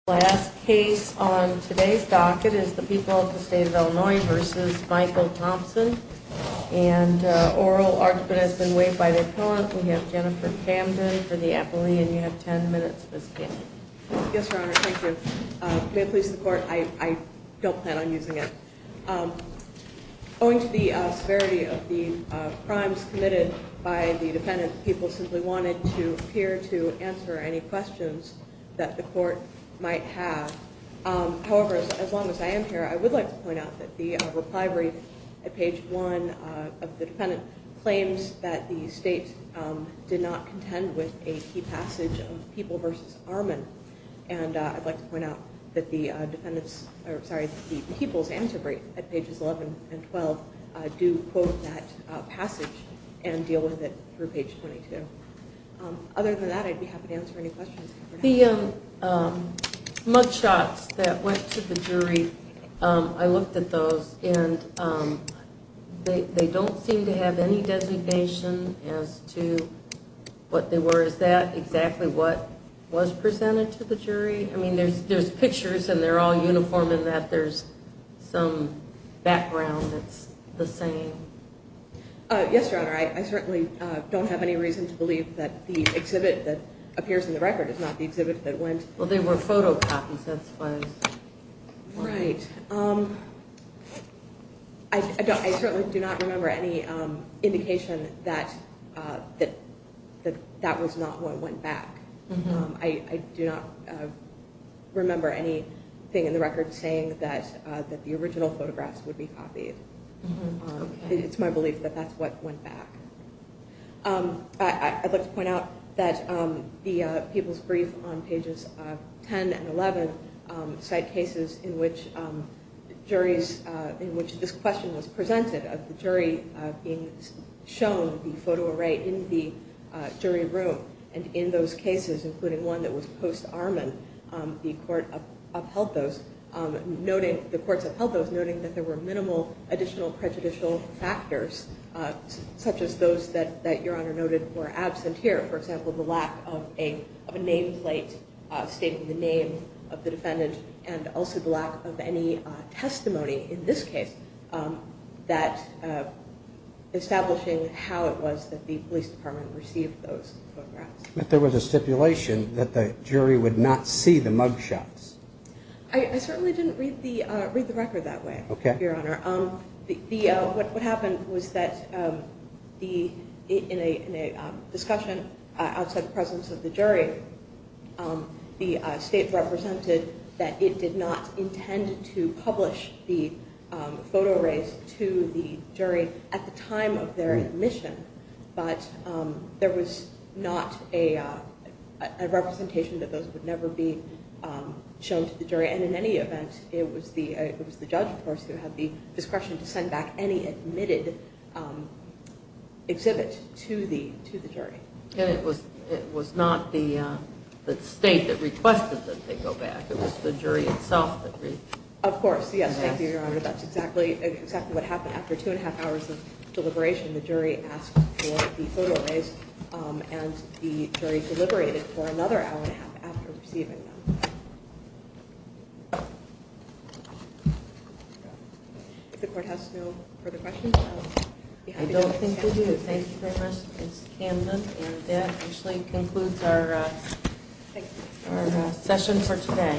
Last case on today's docket is the people of the state of Illinois v. Michael Thompson, and oral argument has been waived by the appellant. We have Jennifer Camden for the appellee, and you have 10 minutes, Ms. Camden. Yes, Your Honor, thank you. May it please the court, I don't plan on using it. Owing to the severity of the crimes committed by the defendant, the people simply wanted to appear to answer any questions that the court might have. However, as long as I am here, I would like to point out that the reply brief at page 1 of the defendant claims that the state did not contend with a key passage of People v. Armin, and I'd like to point out that the people's answer brief at pages 11 and 12 do quote that passage and deal with it through page 22. Other than that, I'd be happy to answer any questions. The mug shots that went to the jury, I looked at those, and they don't seem to have any designation as to what they were. Is that exactly what was presented to the jury? I mean, there's pictures and they're all uniform in that there's some background that's the same. Yes, Your Honor, I certainly don't have any reason to believe that the exhibit that appears in the record is not the exhibit that went. Well, they were photocopies, that's why. Right, I certainly do not remember any indication that that was not what went back. I do not remember anything in the record saying that the original photographs would be copied. It's my belief that that's what went back. I'd like to point out that the people's brief on pages 10 and 11 cite cases in which this question was presented of the jury being shown the photo array in the jury room. And in those cases, including one that was post-Armin, the courts upheld those, noting that there were minimal additional prejudicial factors, such as those that Your Honor noted were absent here. For example, the lack of a nameplate stating the name of the defendant and also the lack of any testimony in this case that establishing how it was that the police department received those photographs. But there was a stipulation that the jury would not see the mugshots. I certainly didn't read the record that way, Your Honor. What happened was that in a discussion outside the presence of the jury, the state represented that it did not intend to publish the photo arrays to the jury at the time of their admission. But there was not a representation that those would never be shown to the jury. And in any event, it was the judge, of course, who had the discretion to send back any admitted exhibit to the jury. And it was not the state that requested that they go back. It was the jury itself that did. Of course, yes. Thank you, Your Honor. That's exactly what happened. After two and a half hours of deliberation, the jury asked for the photo arrays, and the jury deliberated for another hour and a half after receiving them. If the court has no further questions, I'll be happy to take questions. I don't think we do. Thank you very much, Ms. Camden. And that actually concludes our session for today.